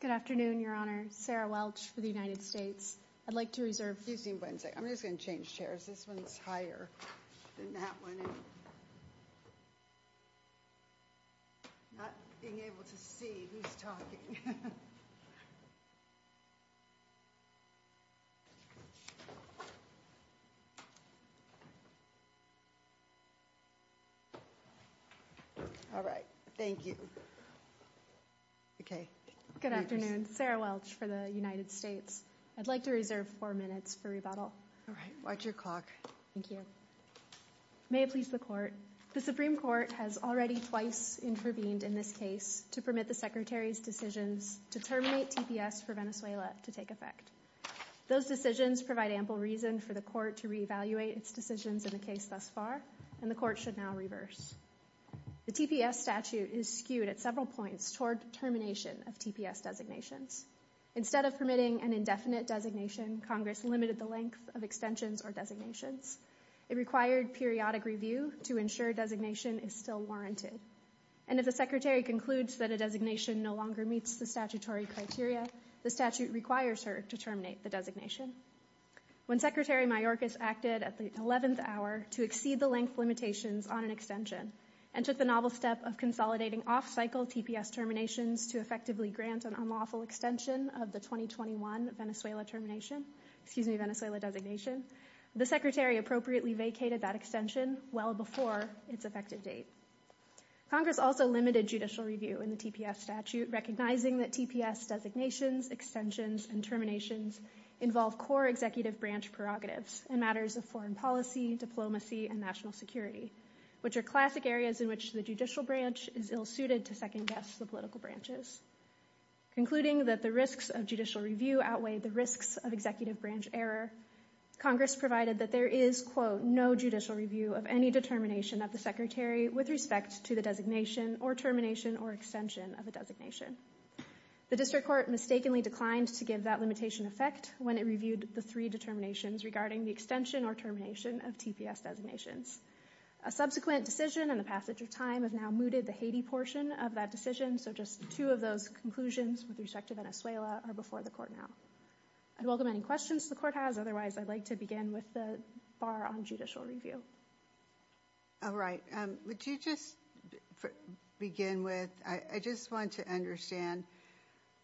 Good afternoon, Your Honor. Sarah Welch for the United States. I'd like to reserve... Excuse me one second. I'm just going to change chairs. This one's higher than that one. Not being able to see who's talking. All right, thank you. Okay. Good afternoon. Sarah Welch for the United States. I'd like to reserve four minutes for rebuttal. All right. Watch your clock. Thank you. May it please the Court. The Supreme Court has already twice intervened in this case to permit the Secretary's decisions to terminate TPS for Venezuela to take effect. Those decisions provide ample reason for the Court to reevaluate its decisions in the case thus far, and the Court should now reverse. The TPS statute is skewed at several points toward termination of TPS designations. Instead of permitting an indefinite designation, Congress limited the length of extensions or designations. It required periodic review to ensure designation is still warranted. And if the Secretary concludes that a designation no longer meets the statutory criteria, the statute requires her to terminate the designation. When Secretary Mayorkas acted at the 11th hour to exceed the length limitations on an extension and took the novel step of consolidating off-cycle TPS terminations to effectively grant an unlawful extension of the 2021 Venezuela designation, the Secretary appropriately vacated that extension well before its effective date. Congress also limited judicial review in the TPS statute, recognizing that TPS designations, extensions, and terminations involve core executive branch prerogatives in matters of foreign policy, diplomacy, and national security, which are classic areas in which the judicial branch is ill-suited to second-guess the political branches. Concluding that the risks of judicial review outweigh the risks of executive branch error, Congress provided that there is, quote, of any determination of the Secretary with respect to the designation or termination or extension of a designation. The District Court mistakenly declined to give that limitation effect when it reviewed the three determinations regarding the extension or termination of TPS designations. A subsequent decision in the passage of time has now mooted the Haiti portion of that decision, so just two of those conclusions with respect to Venezuela are before the Court now. I'd welcome any questions the Court has. Otherwise, I'd like to begin with the bar on judicial review. All right. Would you just begin with, I just want to understand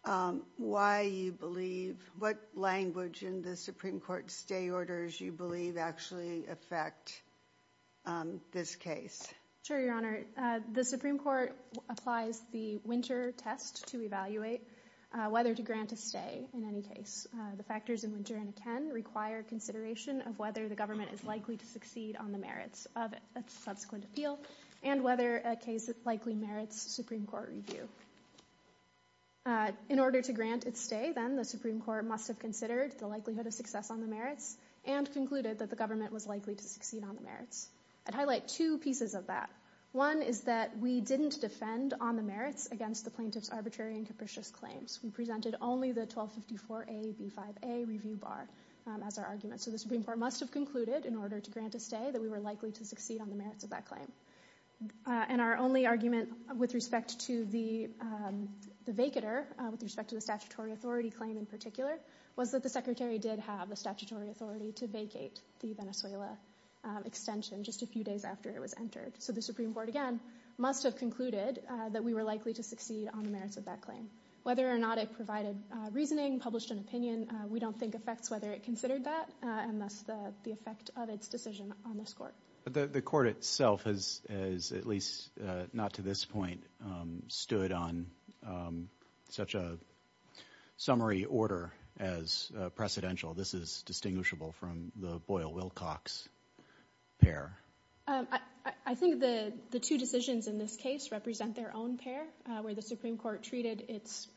why you believe, what language in the Supreme Court stay orders you believe actually affect this case. Sure, Your Honor. The Supreme Court applies the winter test to evaluate whether to grant a stay in any case. The factors in winter and akin require consideration of whether the government is likely to succeed on the merits of a subsequent appeal and whether a case likely merits Supreme Court review. In order to grant its stay, then, the Supreme Court must have considered the likelihood of success on the merits and concluded that the government was likely to succeed on the merits. I'd highlight two pieces of that. One is that we didn't defend on the merits against the plaintiff's arbitrary and capricious claims. We presented only the 1254A, B5A review bar as our argument. So the Supreme Court must have concluded, in order to grant a stay, that we were likely to succeed on the merits of that claim. And our only argument with respect to the vacater, with respect to the statutory authority claim in particular, was that the Secretary did have the statutory authority to vacate the Venezuela extension just a few days after it was entered. So the Supreme Court, again, must have concluded that we were likely to succeed on the merits of that claim. Whether or not it provided reasoning, published an opinion, we don't think affects whether it considered that, unless the effect of its decision on this Court. But the Court itself has, at least not to this point, stood on such a summary order as precedential. This is distinguishable from the Boyle-Wilcox pair. I think the two decisions in this case represent their own pair, where the Supreme Court treated its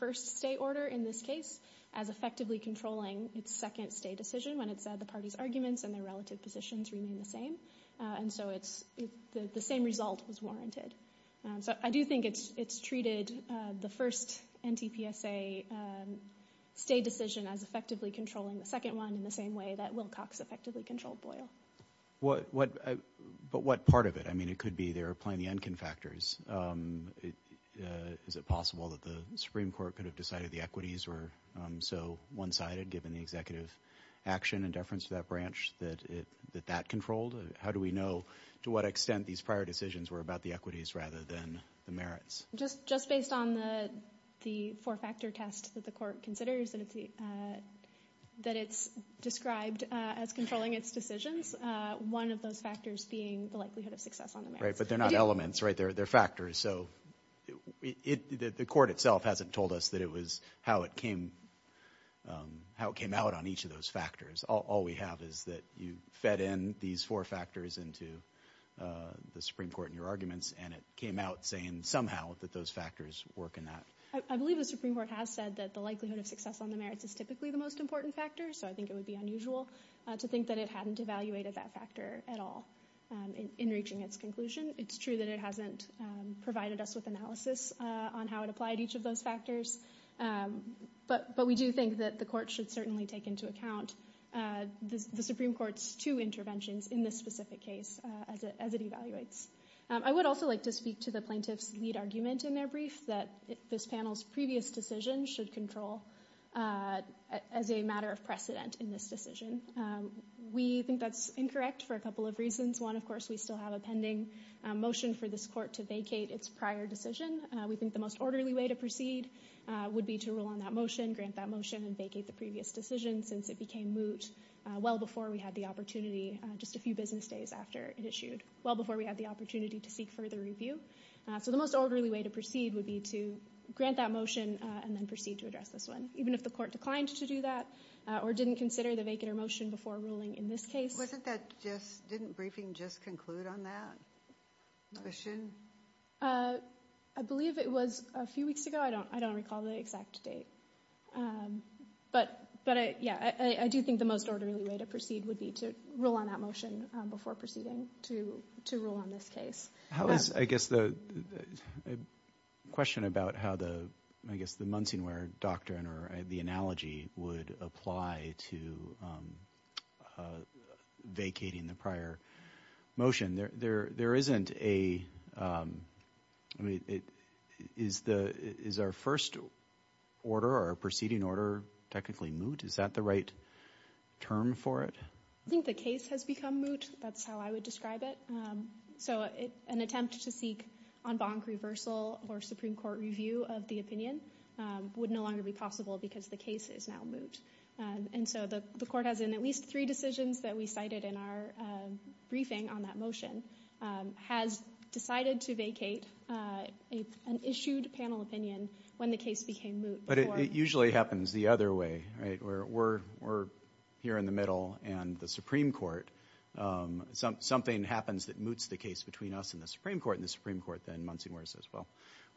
first stay order in this case as effectively controlling its second stay decision when it said the party's arguments and their relative positions remain the same. And so the same result was warranted. So I do think it's treated the first NTPSA stay decision as effectively controlling the second one in the same way that Wilcox effectively controlled Boyle. But what part of it? I mean, it could be there are plenty of factors. Is it possible that the Supreme Court could have decided the equities were so one-sided, given the executive action and deference to that branch that that controlled? How do we know to what extent these prior decisions were about the equities rather than the merits? Just based on the four-factor test that the Court considers that it's described as controlling its decisions, one of those factors being the likelihood of success on the merits. Right, but they're not elements, right? They're factors. So the Court itself hasn't told us that it was how it came out on each of those factors. All we have is that you fed in these four factors into the Supreme Court in your arguments, and it came out saying somehow that those factors work in that. I believe the Supreme Court has said that the likelihood of success on the merits is typically the most important factor, so I think it would be unusual to think that it hadn't evaluated that factor at all in reaching its conclusion. It's true that it hasn't provided us with analysis on how it applied each of those factors, but we do think that the Court should certainly take into account the Supreme Court's two interventions in this specific case as it evaluates. I would also like to speak to the plaintiff's lead argument in their brief that this panel's previous decision should control as a matter of precedent in this decision. We think that's incorrect for a couple of reasons. One, of course, we still have a pending motion for this Court to vacate its prior decision. We think the most orderly way to proceed would be to rule on that motion, grant that motion, and vacate the previous decision since it became moot well before we had the opportunity, just a few business days after it issued, well before we had the opportunity to seek further review. So the most orderly way to proceed would be to grant that motion and then proceed to address this one, even if the Court declined to do that or didn't consider the vacater motion before ruling in this case. Wasn't that just, didn't briefing just conclude on that motion? I believe it was a few weeks ago. I don't recall the exact date. But, yeah, I do think the most orderly way to proceed would be to rule on that motion before proceeding to rule on this case. I guess the question about how the, I guess the Munsingware Doctrine or the analogy would apply to vacating the prior motion. There isn't a, I mean, is our first order or proceeding order technically moot? Is that the right term for it? I think the case has become moot. That's how I would describe it. So an attempt to seek en banc reversal or Supreme Court review of the opinion would no longer be possible because the case is now moot. And so the Court has in at least three decisions that we cited in our briefing on that motion has decided to vacate an issued panel opinion when the case became moot. But it usually happens the other way, right? Where we're here in the middle and the Supreme Court, something happens that moots the case between us and the Supreme Court and the Supreme Court then Munsingware says, well,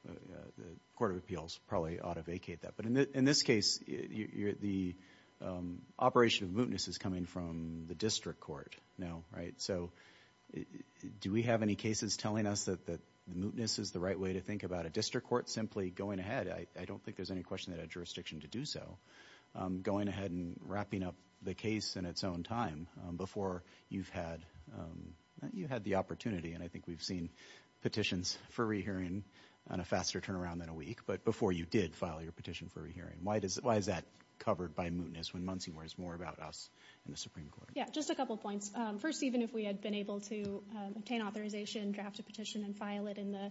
the Court of Appeals probably ought to vacate that. But in this case, the operation of mootness is coming from the District Court now, right? So do we have any cases telling us that the mootness is the right way to think about it? District Court simply going ahead. I don't think there's any question that a jurisdiction to do so. Going ahead and wrapping up the case in its own time before you've had the opportunity. And I think we've seen petitions for re-hearing on a faster turnaround than a week. But before you did file your petition for re-hearing, why is that covered by mootness when Munsingware is more about us and the Supreme Court? Yeah, just a couple of points. First, even if we had been able to obtain authorization, draft a petition and file it in the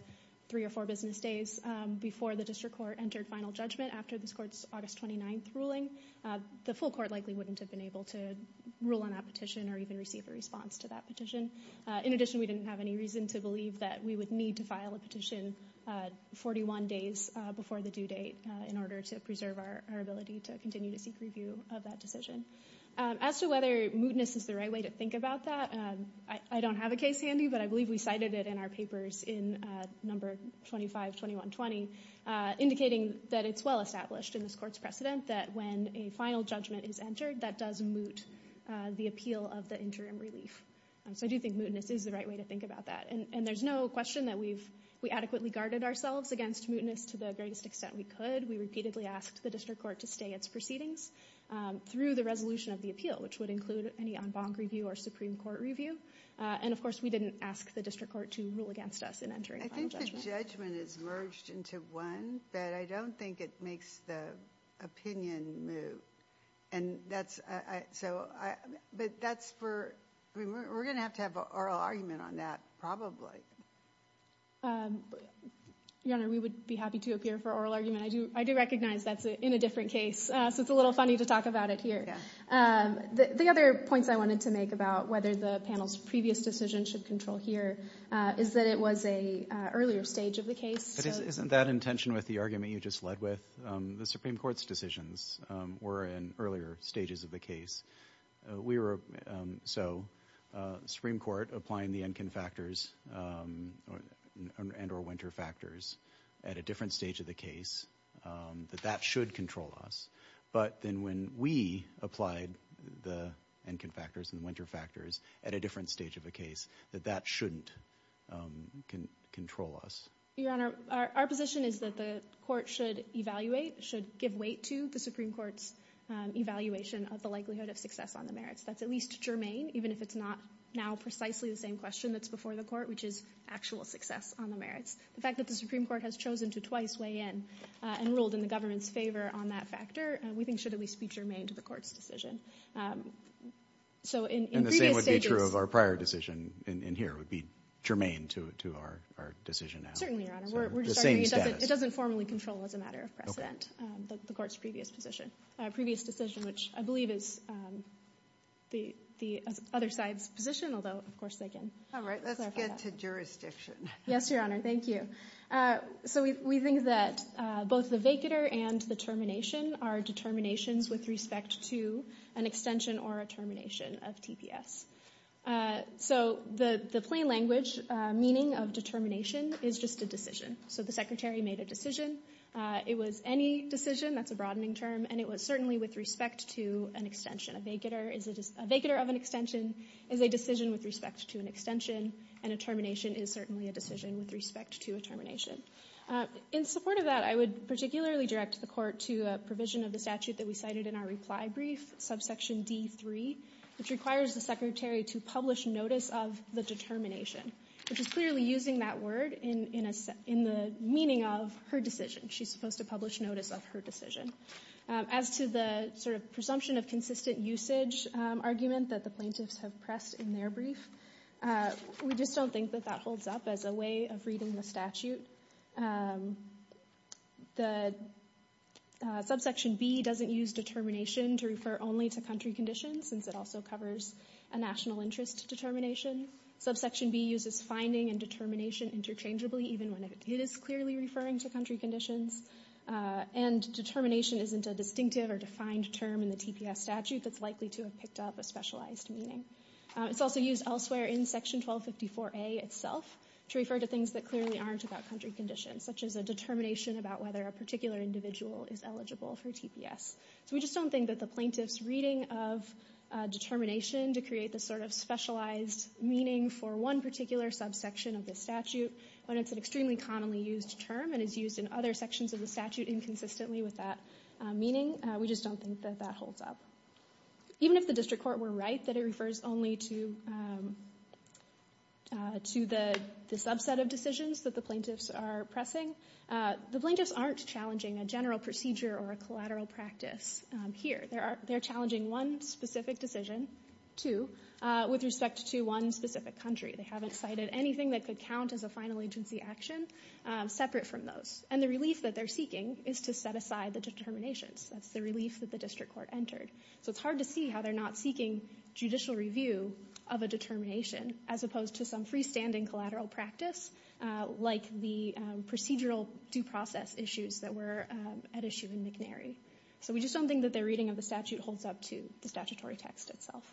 three or four business days before the District Court entered final judgment after this Court's August 29th ruling, the full court likely wouldn't have been able to rule on that petition or even receive a response to that petition. In addition, we didn't have any reason to believe that we would need to file a petition 41 days before the due date in order to preserve our ability to continue to seek review of that decision. As to whether mootness is the right way to think about that, I don't have a case handy, but I believe we cited it in our papers in number 252120, indicating that it's well established in this Court's precedent that when a final judgment is entered, that does moot the appeal of the interim relief. So I do think mootness is the right way to think about that. And there's no question that we adequately guarded ourselves against mootness to the greatest extent we could. We repeatedly asked the District Court to stay its proceedings through the resolution of the appeal, which would include any en banc review or Supreme Court review. And, of course, we didn't ask the District Court to rule against us in entering final judgment. I think the judgment is merged into one, but I don't think it makes the opinion move. And that's... But that's for... We're going to have to have an oral argument on that, probably. Your Honor, we would be happy to appear for oral argument. I do recognize that's in a different case, so it's a little funny to talk about it here. The other points I wanted to make about whether the panel's previous decision should control here is that it was an earlier stage of the case. But isn't that in tension with the argument you just led with? The Supreme Court's decisions were in earlier stages of the case. We were... So, Supreme Court applying the Enkin factors and or Winter factors at a different stage of the case, that that should control us. But then when we applied the Enkin factors and the Winter factors at a different stage of the case, that that shouldn't control us. Your Honor, our position is that the court should evaluate, should give weight to the Supreme Court's evaluation of the likelihood of success on the merits. That's at least germane, even if it's not now precisely the same question that's before the court, which is actual success on the merits. The fact that the Supreme Court has chosen to twice weigh in and ruled in the government's favour on that factor, we think should at least be germane to the court's decision. So, in previous stages... And the same would be true of our prior decision in here. It would be germane to our decision now. Certainly, Your Honor. We're just arguing it doesn't formally control as a matter of precedent the court's previous decision, which I believe is the other side's position, although, of course, they can clarify that. All right, let's get to jurisdiction. Yes, Your Honor. Thank you. So, we think that both the vacater and the termination are determinations with respect to an extension or a termination of TPS. So, the plain language meaning of determination is just a decision. So, the Secretary made a decision. It was any decision. That's a broadening term. And it was certainly with respect to an extension. A vacater of an extension is a decision with respect to an extension, and a termination is certainly a decision with respect to a termination. In support of that, I would particularly direct the court to a provision of the statute that we cited in our reply brief, subsection D.3, which requires the Secretary to publish notice of the determination, which is clearly using that word in the meaning of her decision. She's supposed to publish notice of her decision. As to the sort of presumption of consistent usage argument that the plaintiffs have pressed in their brief, we just don't think that that holds up as a way of reading the statute. The subsection B doesn't use determination to refer only to country conditions, since it also covers a national interest determination. Subsection B uses finding and determination interchangeably, even when it is clearly referring to country conditions. And determination isn't a distinctive or defined term in the TPS statute that's likely to have picked up a specialized meaning. It's also used elsewhere in section 1254A itself to refer to things that clearly aren't about country conditions, such as a determination about whether a particular individual is eligible for TPS. So we just don't think that the plaintiff's reading of determination to create this sort of specialized meaning for one particular subsection of the statute, when it's an extremely commonly used term and is used in other sections of the statute inconsistently with that meaning, we just don't think that that holds up. Even if the district court were right that it refers only to the subset of decisions that the plaintiffs are pressing, the plaintiffs aren't challenging a general procedure or a collateral practice here. They're challenging one specific decision, two, with respect to one specific country. They haven't cited anything that could count as a final agency action separate from those. And the relief that they're seeking is to set aside the determinations. That's the relief that the district court entered. So it's hard to see how they're not seeking judicial review of a determination, as opposed to some freestanding collateral practice, like the procedural due process issues that were at issue in McNary. So we just don't think that their reading of the statute holds up to the statutory text itself.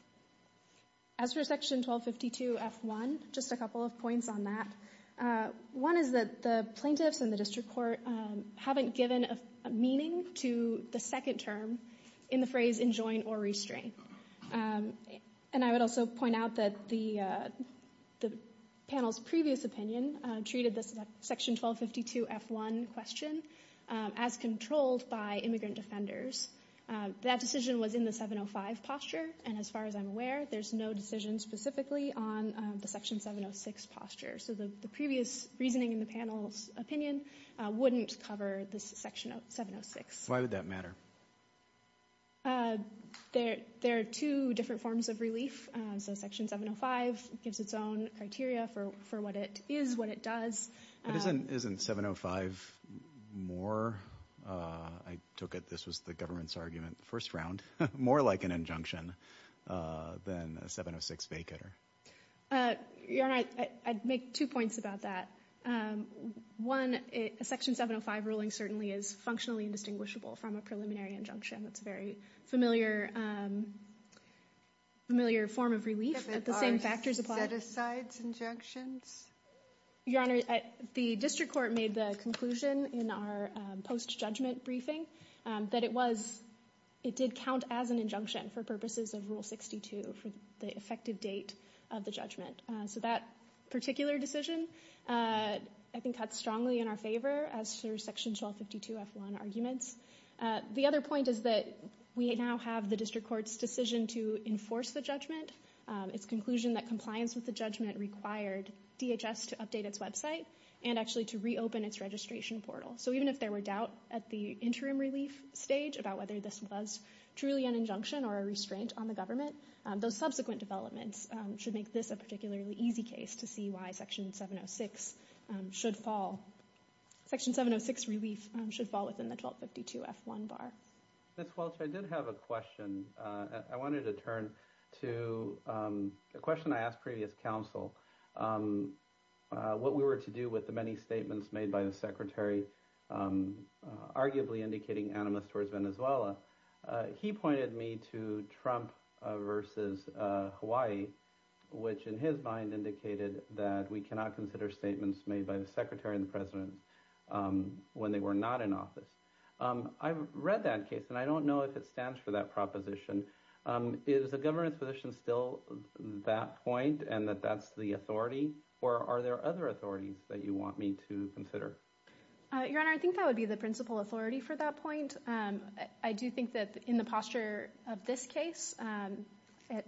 As for section 1252F1, just a couple of points on that. One is that the plaintiffs and the district court haven't given a meaning to the second term in the phrase enjoin or restrain. And I would also point out that the panel's previous opinion treated the section 1252F1 question as controlled by immigrant defenders. That decision was in the 705 posture, and as far as I'm aware, there's no decision specifically on the section 706 posture. So the previous reasoning in the panel's opinion wouldn't cover this section 706. Why would that matter? There are two different forms of relief. So section 705 gives its own criteria for what it is, what it does. Isn't 705 more... I took it this was the government's argument the first round... more like an injunction than a 706 vacater. Your Honor, I'd make two points about that. One, a section 705 ruling certainly is functionally indistinguishable from a preliminary injunction. That's a very familiar form of relief that the same factors apply. If it are set-asides injunctions? Your Honor, the district court made the conclusion in our post-judgment briefing that it was... it did count as an injunction for purposes of Rule 62 for the effective date of the judgment. So that particular decision, I think, cuts strongly in our favor as per section 1252-F1 arguments. The other point is that we now have the district court's decision to enforce the judgment. Its conclusion that compliance with the judgment required DHS to update its website and actually to reopen its registration portal. So even if there were doubt at the interim relief stage about whether this was truly an injunction or a restraint on the government, those subsequent developments should make this a particularly easy case to see why section 706 should fall... section 706 relief should fall within the 1252-F1 bar. Ms. Welch, I did have a question. I wanted to turn to a question I asked previous counsel. What we were to do with the many statements made by the Secretary, arguably indicating animus towards Venezuela. He pointed me to Trump versus Hawaii, which in his mind indicated that we cannot consider statements made by the Secretary and the President when they were not in office. I've read that case, and I don't know if it stands for that proposition. Is the government's position still that point and that that's the authority, or are there other authorities that you want me to consider? Your Honor, I think that would be the principal authority for that point. I do think that in the posture of this case,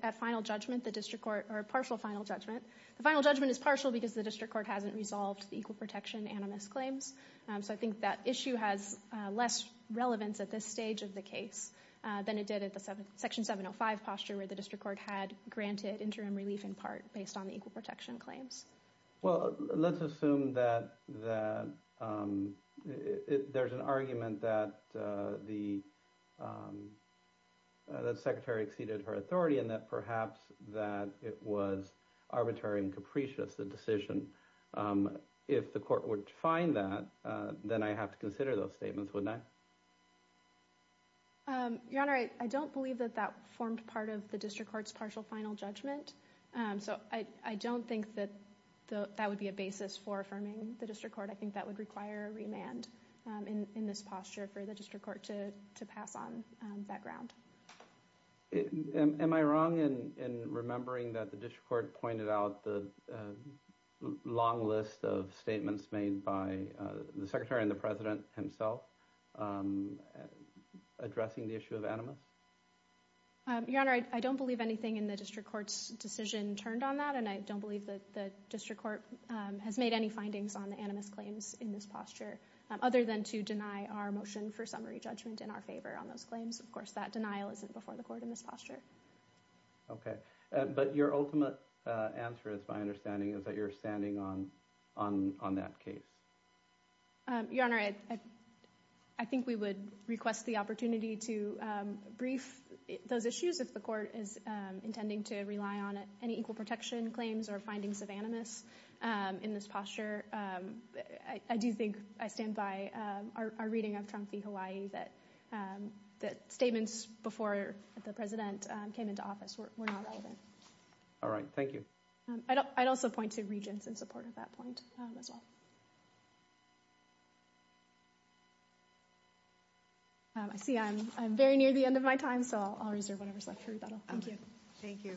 at final judgment, the district court... or partial final judgment. The final judgment is partial because the district court hasn't resolved the equal protection animus claims. So I think that issue has less relevance at this stage of the case than it did at the section 705 posture where the district court had granted interim relief in part based on the equal protection claims. Well, let's assume that there's an argument that the Secretary exceeded her authority and that perhaps that it was arbitrary and capricious, the decision. If the court were to find that, then I'd have to consider those statements, wouldn't I? Your Honor, I don't believe that that formed part of the district court's partial final judgment. So I don't think that that would be a basis for affirming the district court. I think that would require a remand in this posture for the district court to pass on that ground. Am I wrong in remembering that the district court pointed out the long list of statements made by the Secretary and the President himself addressing the issue of animus? Your Honor, I don't believe anything in the district court's decision turned on that, and I don't believe that the district court has made any findings on the animus claims in this posture, other than to deny our motion for summary judgment in our favor on those claims. Of course, that denial isn't before the court in this posture. Okay. But your ultimate answer, it's my understanding, is that you're standing on that case. Your Honor, I think we would request the opportunity to brief those issues if the court is intending to rely on any equal protection claims or findings of animus in this posture. I do think I stand by our reading of Trump v. Hawaii that statements before the President came into office were not relevant. All right. Thank you. I'd also point to Regents in support of that point as well. I see I'm very near the end of my time, so I'll reserve whatever's left for rebuttal. Thank you. Thank you.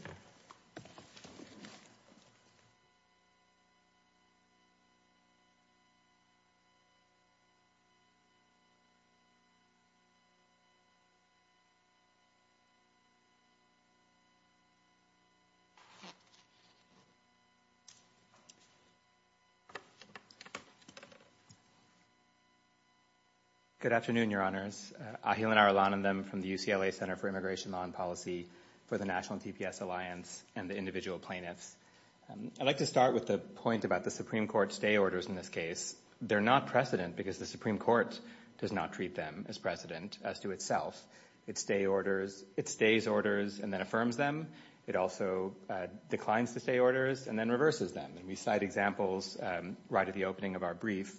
Good afternoon, Your Honors. Ahilanar Alanandam from the UCLA Center for Immigration Law and Policy for the National TPS Alliance and the individual plaintiffs. I'd like to start with the point about the Supreme Court stay orders in this case. They're not precedent because the Supreme Court does not treat them as precedent as to itself. It stays orders and then affirms them. It also declines the stay orders and then reverses them. We cite examples right at the opening of our brief.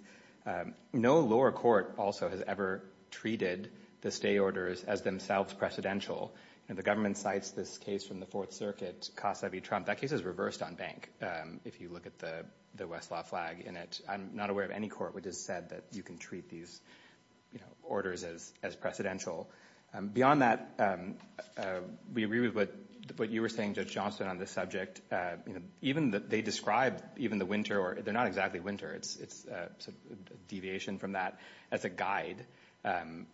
No lower court also has ever treated the stay orders as themselves precedential. The government cites this case from the Fourth Circuit, Casa v. Trump. That case is reversed on bank, if you look at the Westlaw flag in it. I'm not aware of any court which has said that you can treat these orders as precedential. Beyond that, we agree with what you were saying, Judge Johnston, on this subject. Even that they describe even the winter or they're not exactly winter. It's a deviation from that as a guide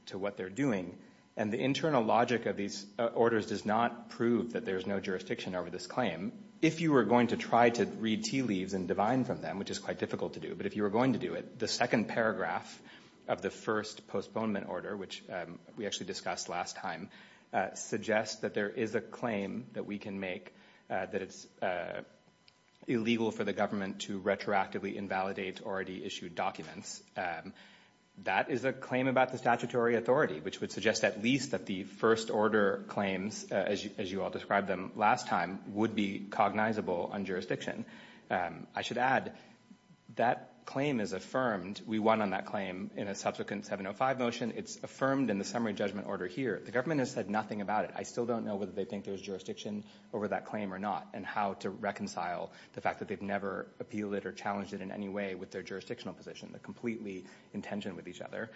to what they're doing. And the internal logic of these orders does not prove that there's no jurisdiction over this claim. If you were going to try to read tea leaves and divine from them, which is quite difficult to do, but if you were going to do it, the second paragraph of the first postponement order, which we actually discussed last time, suggests that there is a claim that we can make that it's illegal for the government to retroactively invalidate already issued documents. That is a claim about the statutory authority, which would suggest at least that the first order claims, as you all described them last time, would be cognizable on jurisdiction. I should add that claim is affirmed. We won on that claim in a subsequent 705 motion. It's affirmed in the summary judgment order here. The government has said nothing about it. I still don't know whether they think there's jurisdiction over that claim or not and how to reconcile the fact that they've never appealed it or challenged it in any way with their jurisdictional position. They're completely in tension with each other.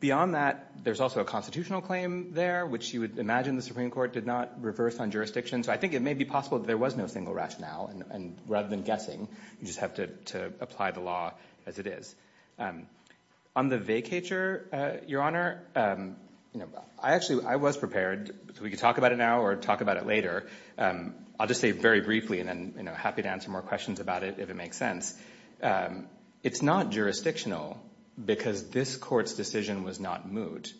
Beyond that, there's also a constitutional claim there, which you would imagine the Supreme Court did not reverse on jurisdiction. So I think it may be possible that there was no single rationale, and rather than guessing, you just have to apply the law as it is. On the vacatur, Your Honor, I actually, I was prepared. We could talk about it now or talk about it later. I'll just say very briefly, and then happy to answer more questions about it if it makes sense. It's not jurisdictional because this court's decision was not moot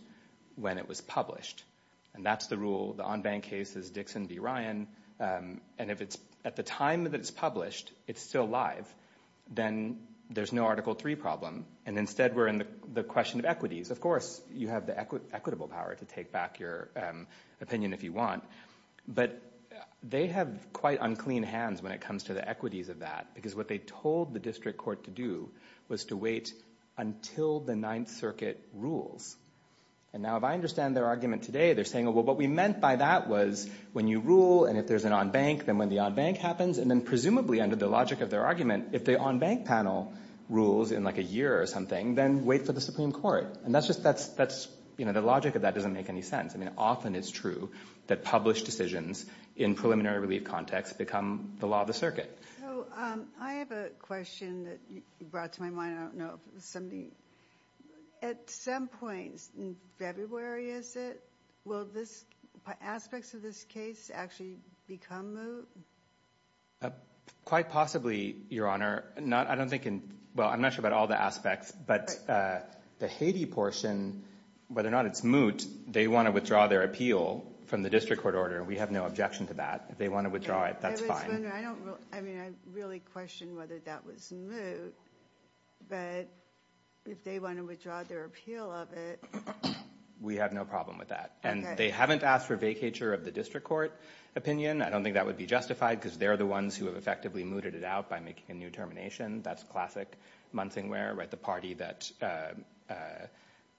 when it was published, and that's the rule. The en banc case is Dixon v. Ryan, and if it's, at the time that it's published, it's still live, then there's no Article III problem, and instead we're in the question of equities. Of course, you have the equitable power to take back your opinion if you want, but they have quite unclean hands when it comes to the equities of that because what they told the district court to do was to wait until the Ninth Circuit rules. And now if I understand their argument today, they're saying, well, what we meant by that was when you rule and if there's an en banc, then when the en banc happens, and then presumably under the logic of their argument, if the en banc panel rules in like a year or something, then wait for the Supreme Court. And that's just, that's, you know, the logic of that doesn't make any sense. I mean, often it's true that published decisions in preliminary relief context become the law of the circuit. So I have a question that you brought to my mind. I don't know if somebody... At some point in February, is it? Will this, aspects of this case actually become moot? Quite possibly, Your Honor. I don't think in, well, I'm not sure about all the aspects, but the Haiti portion, whether or not it's moot, they want to withdraw their appeal from the district court order. We have no objection to that. If they want to withdraw it, that's fine. I mean, I really question whether that was moot, but if they want to withdraw their appeal of it... We have no problem with that. Okay. And they haven't asked for vacatur of the district court opinion. I don't think that would be justified because they're the ones who have effectively mooted it out by making a new termination. That's classic Munsingware, right? The party that,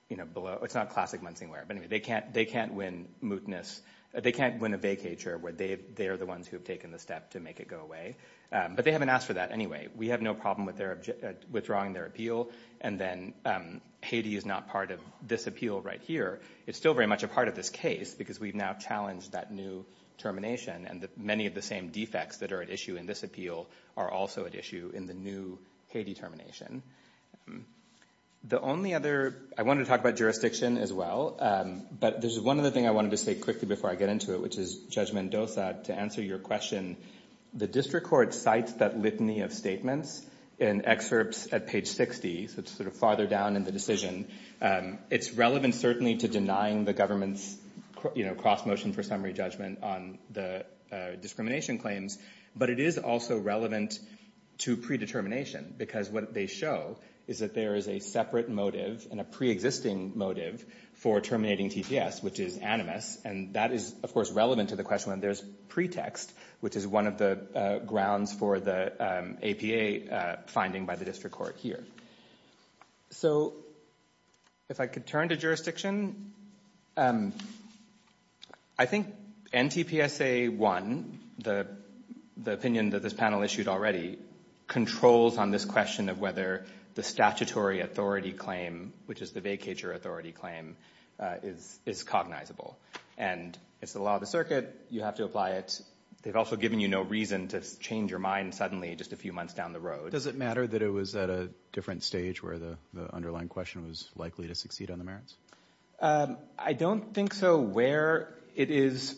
you know, below... It's not classic Munsingware, but anyway, they can't win mootness. They can't win a vacatur where they are the ones who have taken the step to make it go away. But they haven't asked for that anyway. We have no problem with withdrawing their appeal, and then Haiti is not part of this appeal right here. It's still very much a part of this case because we've now challenged that new termination, and many of the same defects that are at issue in this appeal are also at issue in the new Haiti termination. The only other... I want to talk about jurisdiction as well, but there's one other thing I wanted to say quickly before I get into it, which is, Judge Mendoza, to answer your question, the district court cites that litany of statements in excerpts at page 60, so it's sort of farther down in the decision. It's relevant, certainly, to denying the government's, you know, cross-motion for summary judgment on the discrimination claims, but it is also relevant to predetermination because what they show is that there is a separate motive and a preexisting motive for terminating TPS, which is animus, and that is, of course, relevant to the question when there's pretext, which is one of the grounds for the APA finding by the district court here. So if I could turn to jurisdiction, I think NTPSA 1, the opinion that this panel issued already, controls on this question of whether the statutory authority claim, which is the vacatur authority claim, is cognizable. And it's the law of the circuit. You have to apply it. They've also given you no reason to change your mind suddenly just a few months down the road. Does it matter that it was at a different stage where the underlying question was likely to succeed on the merits? I don't think so where it is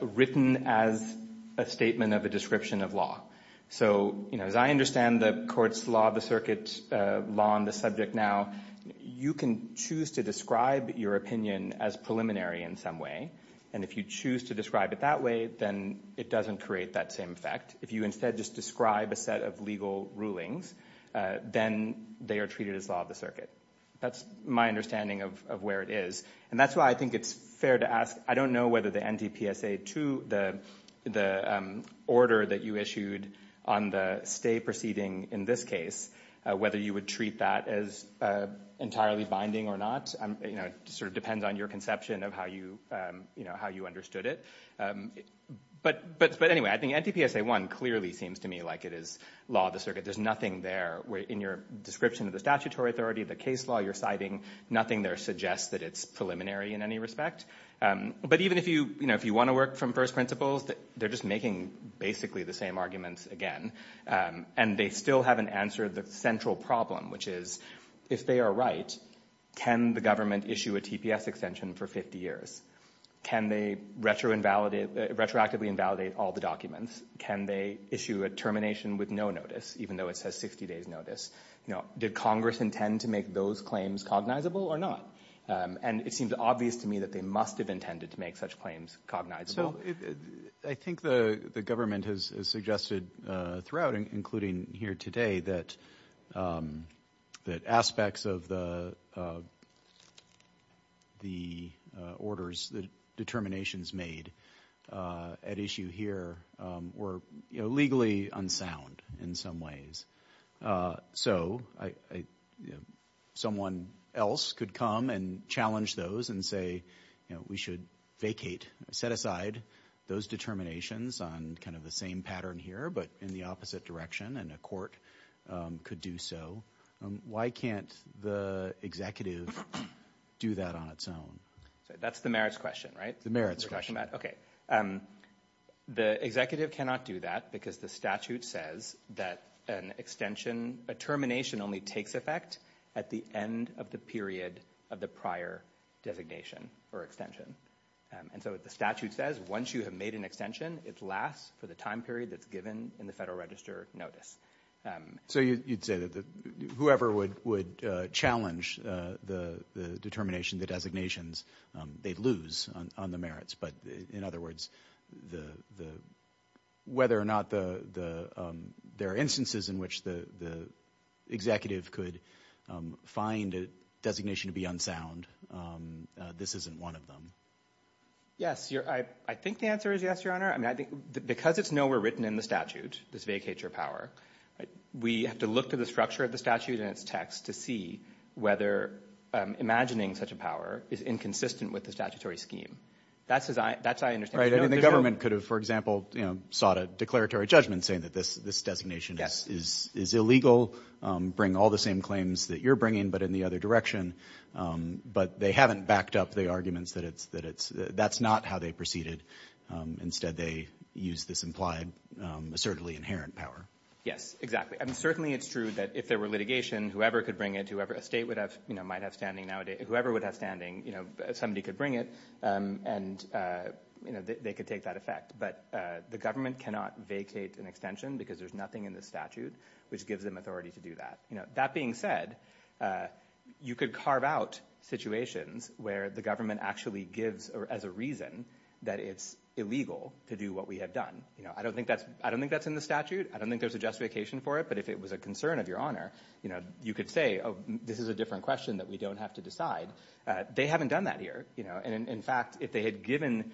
written as a statement of a description of law. So, you know, as I understand the court's law of the circuit, law on the subject now, you can choose to describe your opinion as preliminary in some way. And if you choose to describe it that way, then it doesn't create that same effect. If you instead just describe a set of legal rulings, then they are treated as law of the circuit. That's my understanding of where it is. And that's why I think it's fair to ask. I don't know whether the NTPSA 2, the order that you issued on the stay proceeding in this case, whether you would treat that as entirely binding or not. It sort of depends on your conception of how you understood it. But anyway, I think NTPSA 1 clearly seems to me like it is law of the circuit. There's nothing there. In your description of the statutory authority, the case law you're citing, nothing there suggests that it's preliminary in any respect. But even if you want to work from first principles, they're just making basically the same arguments again. And they still haven't answered the central problem, which is if they are right, can the government issue a TPS extension for 50 years? Can they retroactively invalidate all the documents? Can they issue a termination with no notice, even though it says 60 days notice? Did Congress intend to make those claims cognizable or not? And it seems obvious to me that they must have intended to make such claims cognizable. I think the government has suggested throughout, including here today, that aspects of the orders, the determinations made at issue here were legally unsound in some ways. So someone else could come and challenge those and say we should vacate, set aside those determinations on kind of the same pattern here, but in the opposite direction, and a court could do so. Why can't the executive do that on its own? That's the merits question, right? The merits question. Okay. The executive cannot do that because the statute says that a termination only takes effect at the end of the period of the prior designation or extension. And so the statute says once you have made an extension, it lasts for the time period that's given in the Federal Register notice. So you'd say that whoever would challenge the determination, the designations, they'd lose on the merits. But in other words, whether or not there are instances in which the executive could find a designation to be unsound, this isn't one of them. Yes. I think the answer is yes, Your Honor. Because it's nowhere written in the statute, this vacate your power, we have to look to the structure of the statute and its text to see whether imagining such a power is inconsistent with the statutory scheme. That's my understanding. The government could have, for example, sought a declaratory judgment saying that this designation is illegal, bring all the same claims that you're bringing but in the other direction, but they haven't backed up the arguments that that's not how they proceeded. Instead, they used this implied assertively inherent power. Yes, exactly. And certainly it's true that if there were litigation, whoever could bring it, a state might have standing nowadays, whoever would have standing, somebody could bring it and they could take that effect. But the government cannot vacate an extension because there's nothing in the statute which gives them authority to do that. That being said, you could carve out situations where the government actually gives as a reason that it's illegal to do what we have done. I don't think that's in the statute. I don't think there's a justification for it, but if it was a concern of your honor, you could say, this is a different question that we don't have to decide. They haven't done that here. And in fact, if they had given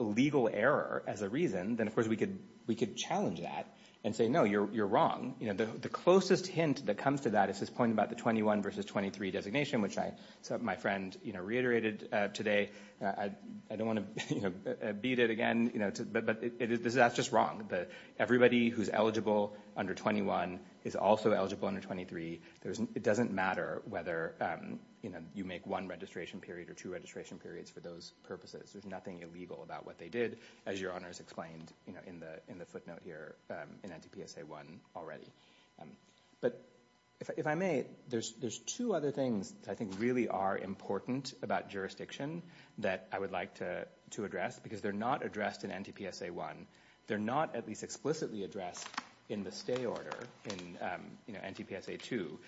legal error as a reason, then of course we could challenge that and say, no, you're wrong. The closest hint that comes to that is this point about the 21 versus 23 designation, which my friend reiterated today. I don't want to beat it again, but that's just wrong. Everybody who's eligible under 21 is also eligible under 23. It doesn't matter whether you make one registration period or two registration periods for those purposes. There's nothing illegal about what they did, as your honors explained in the footnote here in anti-PSA one already. But if I may, there's two other things that I think really are important about jurisdiction that I would like to address because they're not addressed in anti-PSA one. They're not at least explicitly addressed in the stay order in anti-PSA two.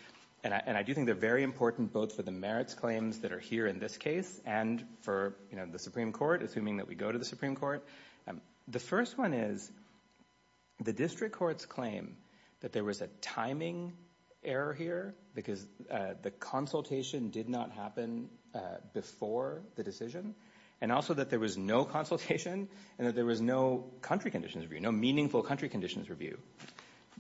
And I do think they're very important both for the merits claims that are here in this case and for the Supreme Court, assuming that we go to the Supreme Court. The first one is the district court's claim that there was a timing error here because the consultation did not happen before the decision and also that there was no consultation and that there was no country conditions review, no meaningful country conditions review.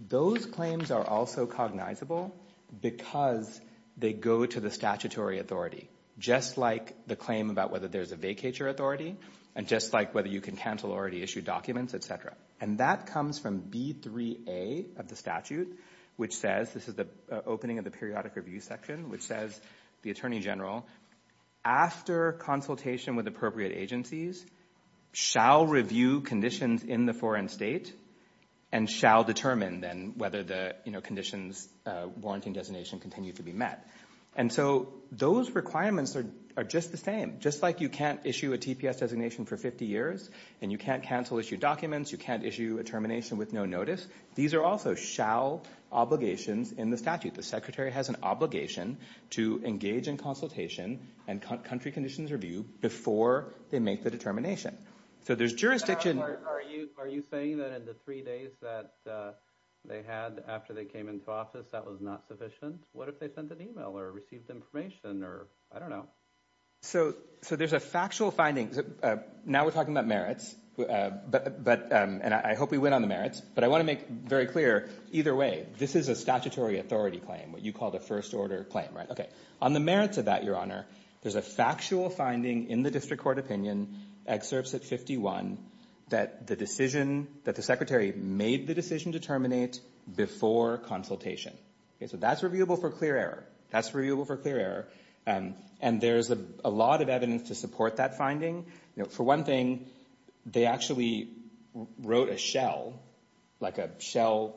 Those claims are also cognizable because they go to the statutory authority, just like the claim about whether there's a vacature authority and just like whether you can cancel already issued documents, et cetera. And that comes from B3A of the statute, which says, this is the opening of the periodic review section, which says the attorney general, after consultation with appropriate agencies, shall review conditions in the foreign state and shall determine then whether the conditions warranting designation continue to be met. And so those requirements are just the same, just like you can't issue a TPS designation for 50 years and you can't cancel issued documents, you can't issue a termination with no notice. These are also shall obligations in the statute. The secretary has an obligation to engage in consultation and country conditions review before they make the determination. So there's jurisdiction. Are you saying that in the three days that they had after they came into office, that was not sufficient? What if they sent an email or received information or I don't know? So there's a factual finding. Now we're talking about merits, and I hope we win on the merits, but I want to make very clear, either way, this is a statutory authority claim, what you call the first order claim, right? On the merits of that, Your Honor, there's a factual finding in the district court opinion, excerpts at 51, that the secretary made the decision to terminate before consultation. So that's reviewable for clear error. That's reviewable for clear error. And there's a lot of evidence to support that finding. For one thing, they actually wrote a shell, like a shell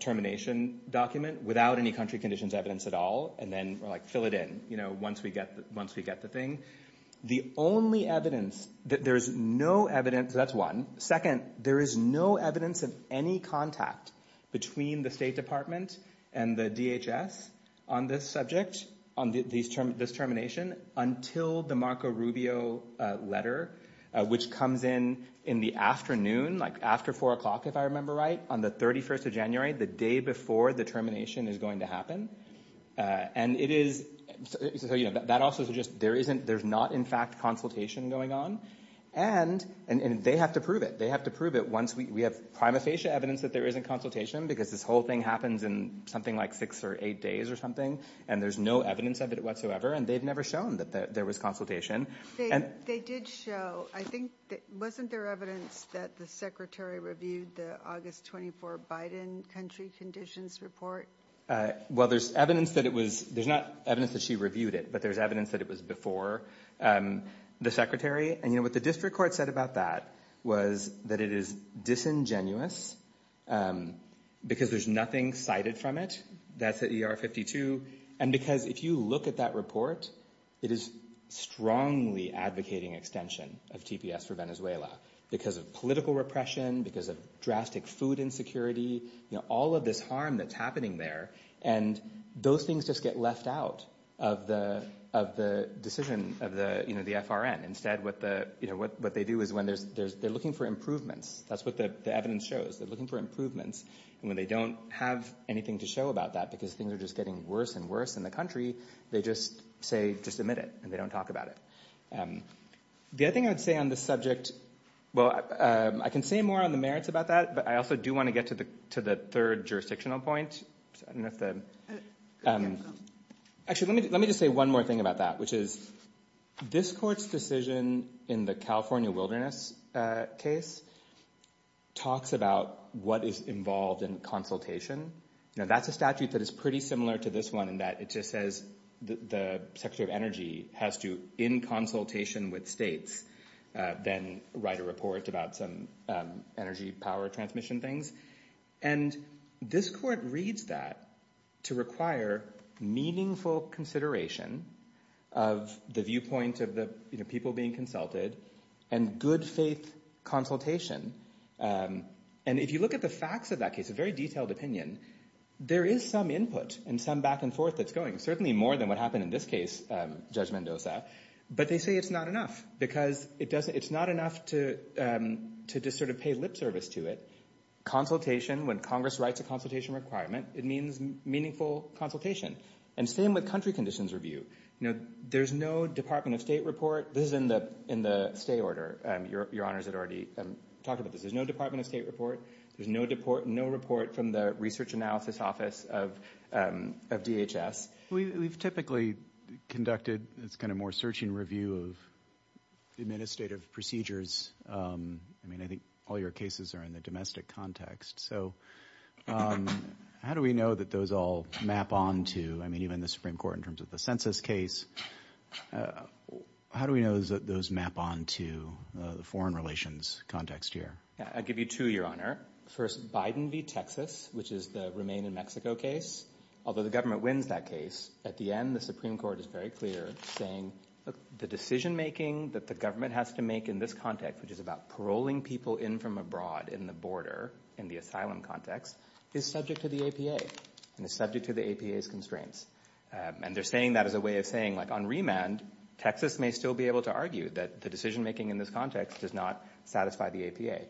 termination document without any country conditions evidence at all, and then were like, fill it in once we get the thing. The only evidence that there's no evidence, that's one. Second, there is no evidence of any contact between the State Department and the DHS on this subject, on this termination, until the Marco Rubio letter, which comes in in the afternoon, like after four o'clock, if I remember right, on the 31st of January, the day before the termination is going to happen. And it is, that also suggests there isn't, there's not, in fact, consultation going on, and they have to prove it. They have to prove it once we have prima facie evidence that there isn't consultation, because this whole thing happens in something like six or eight days or something, and there's no evidence of it whatsoever, and they've never shown that there was consultation. They did show, I think, wasn't there evidence that the Secretary reviewed the August 24 Biden country conditions report? Well, there's evidence that it was, there's not evidence that she reviewed it, but there's evidence that it was before the Secretary, and what the district court said about that was that it is disingenuous, because there's nothing cited from it, that's at ER 52, and because if you look at that report, it is strongly advocating extension of TPS for Venezuela, because of political repression, because of drastic food insecurity, all of this harm that's happening there, and those things just get left out of the decision, of the FRN. Instead, what they do is when there's, they're looking for improvements. That's what the evidence shows. They're looking for improvements, and when they don't have anything to show about that, because things are just getting worse and worse in the country, they just say, just admit it, and they don't talk about it. The other thing I would say on this subject, well, I can say more on the merits about that, but I also do want to get to the third jurisdictional point. I don't know if the... Actually, let me just say one more thing about that, which is this court's decision in the California wilderness case talks about what is involved in consultation. Now, that's a statute that is pretty similar to this one in that it just says the Secretary of Energy has to, in consultation with states, then write a report about some energy, power transmission things, and this court reads that to require meaningful consideration of the viewpoint of the people being consulted and good faith consultation, and if you look at the facts of that case, it's a very detailed opinion. There is some input and some back and forth that's going, certainly more than what happened in this case, Judge Mendoza, but they say it's not enough, because it's not enough to just sort of pay lip service to it. Consultation, when Congress writes a consultation requirement, it means meaningful consultation. And same with country conditions review. There's no Department of State report. This is in the stay order. Your Honors had already talked about this. There's no Department of State report. There's no report from the Research Analysis Office of DHS. We've typically conducted this kind of more searching review of administrative procedures. I mean, I think all your cases are in the domestic context, so how do we know that those all map on to, I mean, even the Supreme Court in terms of the census case, how do we know that those map on to the foreign relations context here? I'll give you two, Your Honor. First, Biden v. Texas, which is the Remain in Mexico case, although the government wins that case, at the end, the Supreme Court is very clear, saying, look, the decision-making that the government has to make in this context, which is about paroling people in from abroad in the border, in the asylum context, is subject to the APA and is subject to the APA's constraints. And they're saying that as a way of saying, like, on remand, Texas may still be able to argue that the decision-making in this context does not satisfy the APA.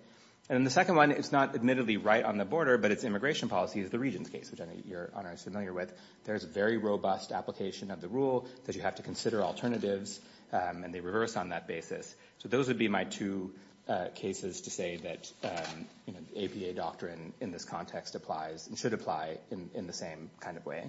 And the second one, it's not admittedly right on the border, but its immigration policy is the Regions case, which I know Your Honor is familiar with. There's a very robust application of the rule that you have to consider alternatives, and they reverse on that basis. So those would be my two cases to say that the APA doctrine in this context applies and should apply in the same kind of way.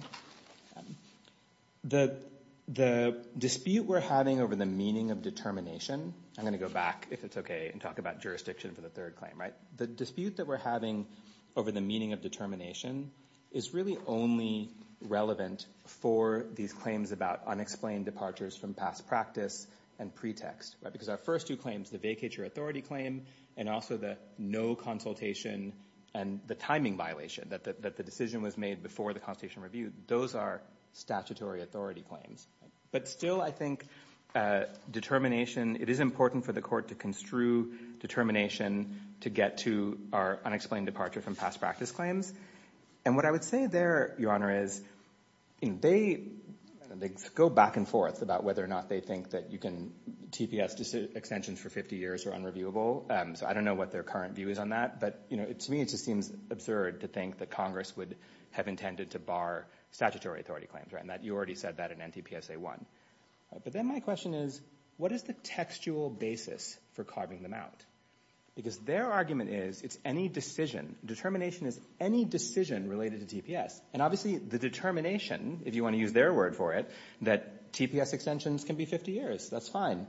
The dispute we're having over the meaning of determination, I'm gonna go back, if it's okay, and talk about jurisdiction for the third claim, right? The dispute that we're having over the meaning of determination is really only relevant for these claims about unexplained departures from past practice and pretext. Because our first two claims, the vacature authority claim, and also the no consultation and the timing violation, that the decision was made before the consultation review, those are statutory authority claims. But still, I think determination, it is important for the court to construe determination to get to our unexplained departure from past practice claims. And what I would say there, Your Honor, is they go back and forth about whether or not they think that you can... TPS extensions for 50 years are unreviewable, so I don't know what their current view is on that. But, you know, to me, it just seems absurd to think that Congress would have intended to bar statutory authority claims, right? And you already said that in NTPSA 1. But then my question is, what is the textual basis for carving them out? Because their argument is it's any decision. Determination is any decision related to TPS. And obviously the determination, if you want to use their word for it, that TPS extensions can be 50 years, that's fine.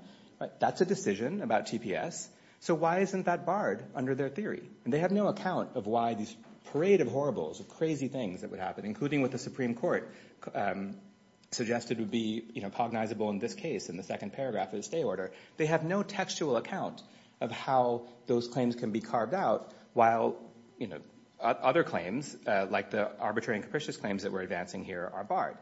That's a decision about TPS. So why isn't that barred under their theory? And they have no account of why these parade of horribles, of crazy things that would happen, including what the Supreme Court suggested would be cognizable in this case in the second paragraph of the stay order. They have no textual account of how those claims can be carved out while other claims, like the arbitrary and capricious claims that we're advancing here, are barred.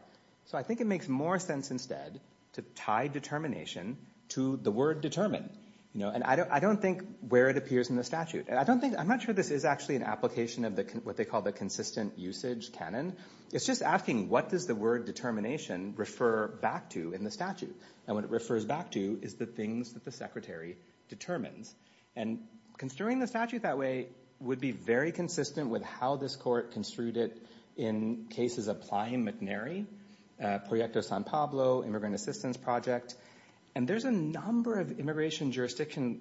So I think it makes more sense instead to tie determination to the word determine. And I don't think where it appears in the statute. I'm not sure this is actually an application of what they call the consistent usage canon. It's just asking what does the word determination refer back to in the statute? And what it refers back to is the things that the secretary determines. And construing the statute that way would be very consistent with how this court construed it in cases applying McNary, Proyecto San Pablo, Immigrant Assistance Project. And there's a number of immigration jurisdiction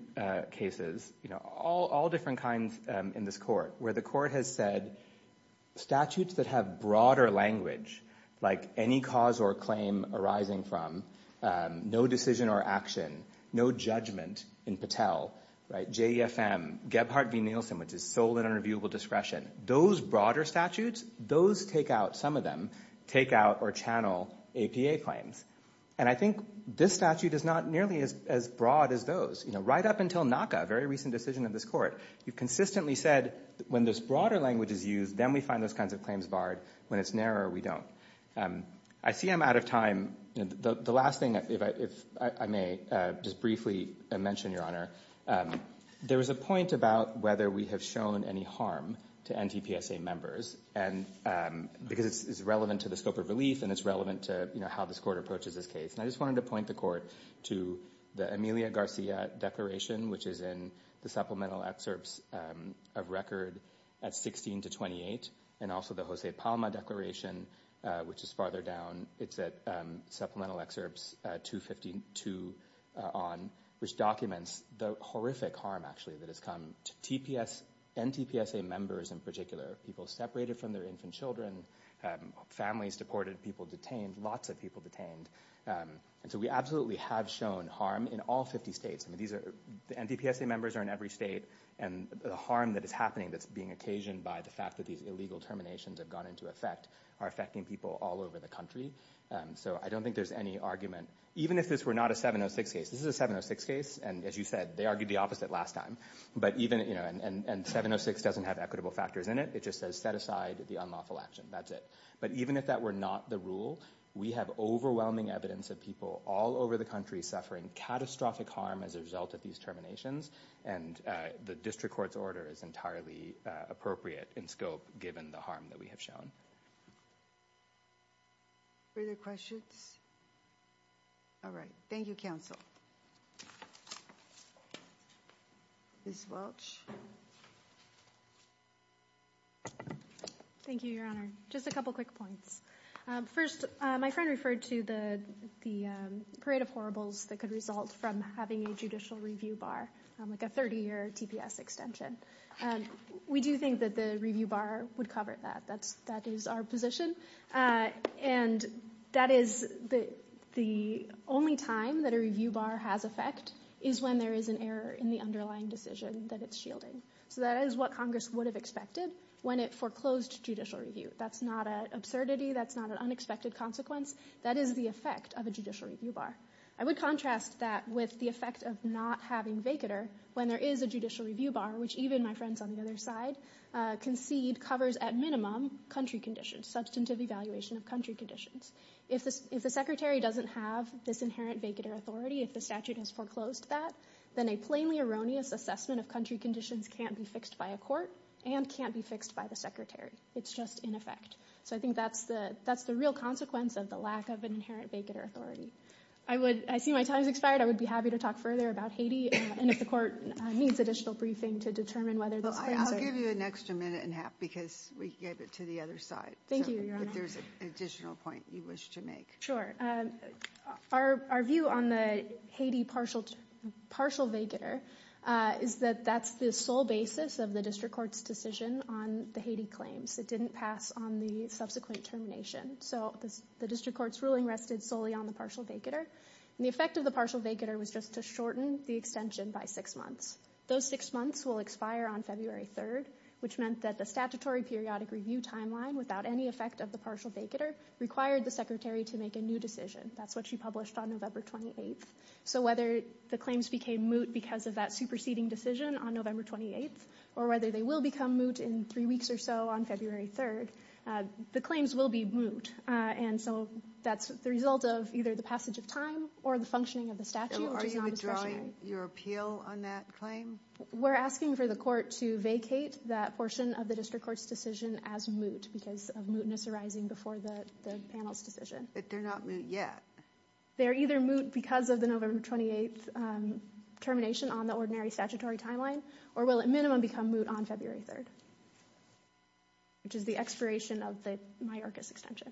cases, all different kinds in this court, where the court has said statutes that have broader language, like any cause or claim arising from, no decision or action, no judgment in Patel, JEFM, Gebhardt v. Nielsen, which is sole and unreviewable discretion, those broader statutes, those take out, some of them take out or channel APA claims. And I think this statute is not nearly as broad as those. Right up until NACA, a very recent decision of this court, you've consistently said when this broader language is used, then we find those kinds of claims barred. When it's narrower, we don't. I see I'm out of time. The last thing, if I may just briefly mention, Your Honor, there was a point about whether we have shown any harm to NTPSA members, because it's relevant to the scope of relief and it's relevant to how this court approaches this case. And I just wanted to point the court to the Emilia Garcia declaration, which is in the supplemental excerpts of record at 16 to 28, and also the Jose Palma declaration, which is farther down. It's at supplemental excerpts 252 on, which documents the horrific harm, actually, that has come to NTPSA members in particular, people separated from their infant children, families deported, people detained, lots of people detained. And so we absolutely have shown harm in all 50 states. NTPSA members are in every state, and the harm that is happening, that's being occasioned by the fact that these illegal terminations have gone into effect, are affecting people all over the country. So I don't think there's any argument, even if this were not a 706 case. This is a 706 case, and as you said, they argued the opposite last time. And 706 doesn't have equitable factors in it. It just says, set aside the unlawful action. That's it. But even if that were not the rule, we have overwhelming evidence of people all over the country suffering catastrophic harm as a result of these terminations. And the district court's order is entirely appropriate in scope, given the harm that we have shown. Further questions? All right. Thank you, counsel. Ms. Welch? Thank you, Your Honor. Just a couple quick points. First, my friend referred to the parade of horribles that could result from having a judicial review bar, like a 30-year TPS extension. We do think that the review bar would cover that. That is our position. And that is the only time that a review bar has effect is when there is an error in the underlying decision that it's shielding. So that is what Congress would have expected when it foreclosed judicial review. That's not an absurdity. That's not an unexpected consequence. That is the effect of a judicial review bar. I would contrast that with the effect of not having vacatur when there is a judicial review bar, which even my friends on the other side concede covers at minimum country conditions, substantive evaluation of country conditions. If the secretary doesn't have this inherent vacatur authority, if the statute has foreclosed that, then a plainly erroneous assessment of country conditions can't be fixed by a court and can't be fixed by the secretary. It's just in effect. So I think that's the real consequence of the lack of an inherent vacatur authority. I see my time has expired. I would be happy to talk further about Haiti and if the court needs additional briefing to determine whether this claims are... Well, I'll give you an extra minute and a half because we gave it to the other side. Thank you, Your Honor. If there's an additional point you wish to make. Sure. Our view on the Haiti partial vacatur is that that's the sole basis of the district court's decision on the Haiti claims. It didn't pass on the subsequent termination. So the district court's ruling rested solely on the partial vacatur. And the effect of the partial vacatur was just to shorten the extension by six months. Those six months will expire on February 3rd, which meant that the statutory periodic review timeline without any effect of the partial vacatur required the secretary to make a new decision. That's what she published on November 28th. So whether the claims became moot because of that superseding decision on November 28th or whether they will become moot in three weeks or so on February 3rd, the claims will be moot. And so that's the result of either the passage of time or the functioning of the statute, which is nondiscretionary. Are you withdrawing your appeal on that claim? We're asking for the court to vacate that portion of the district court's decision as moot because of mootness arising before the panel's decision. But they're not moot yet. They're either moot because of the November 28th termination on the ordinary statutory timeline or will at minimum become moot on February 3rd, which is the expiration of the Mayorkas extension.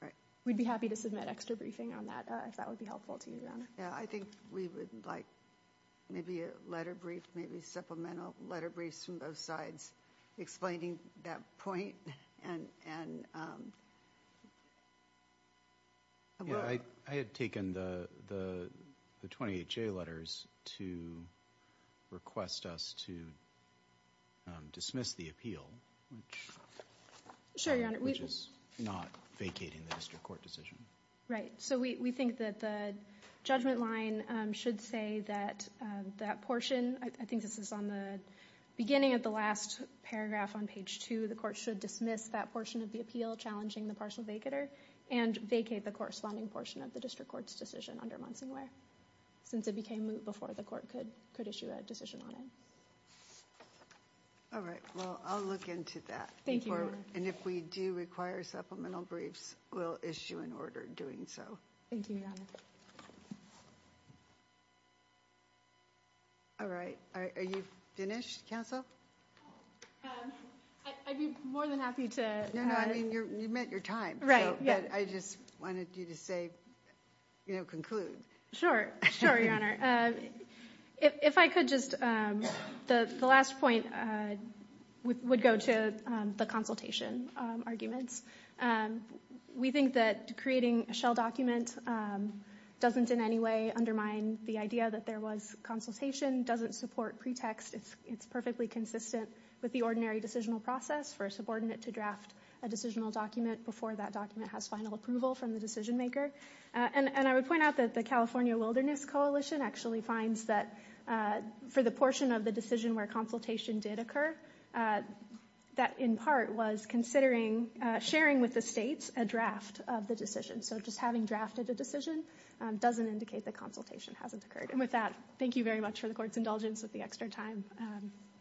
All right. We'd be happy to submit extra briefing on that if that would be helpful to you, Your Honor. Yeah, I think we would like maybe a letter brief, maybe supplemental letter briefs from both sides explaining that point. Yeah, I had taken the 28 J letters to request us to dismiss the appeal, which is not vacating the district court decision. Right. So we think that the judgment line should say that that portion, I think this is on the beginning of the last paragraph on page 2, the court should dismiss that portion of the appeal challenging the partial vacator and vacate the corresponding portion of the district court's decision under Munsonware since it became moot before the court could issue a decision on it. All right. Well, I'll look into that. Thank you, Your Honor. And if we do require supplemental briefs, we'll issue an order doing so. Thank you, Your Honor. All right. Are you finished, counsel? I'd be more than happy to... No, no, I mean, you've met your time. Right, yeah. But I just wanted you to say, you know, conclude. Sure, sure, Your Honor. If I could just... The last point would go to the consultation arguments. We think that creating a shell document doesn't in any way undermine the idea that there was consultation, doesn't support pretext, it's perfectly consistent with the ordinary decisional process for a subordinate to draft a decisional document before that document has final approval from the decision maker. And I would point out that the California Wilderness Coalition actually finds that for the portion of the decision where consultation did occur, that in part was considering sharing with the states a draft of the decision. So just having drafted a decision doesn't indicate the consultation hasn't occurred. And with that, thank you very much for the court's indulgence with the extra time.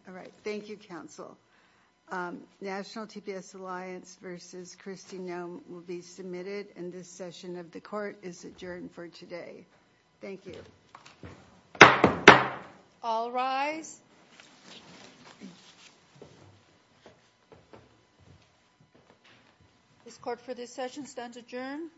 All right. Thank you, counsel. National TPS Alliance versus Kristi Noem will be submitted, and this session of the court is adjourned for today. Thank you. All rise. This court for this session stands adjourned.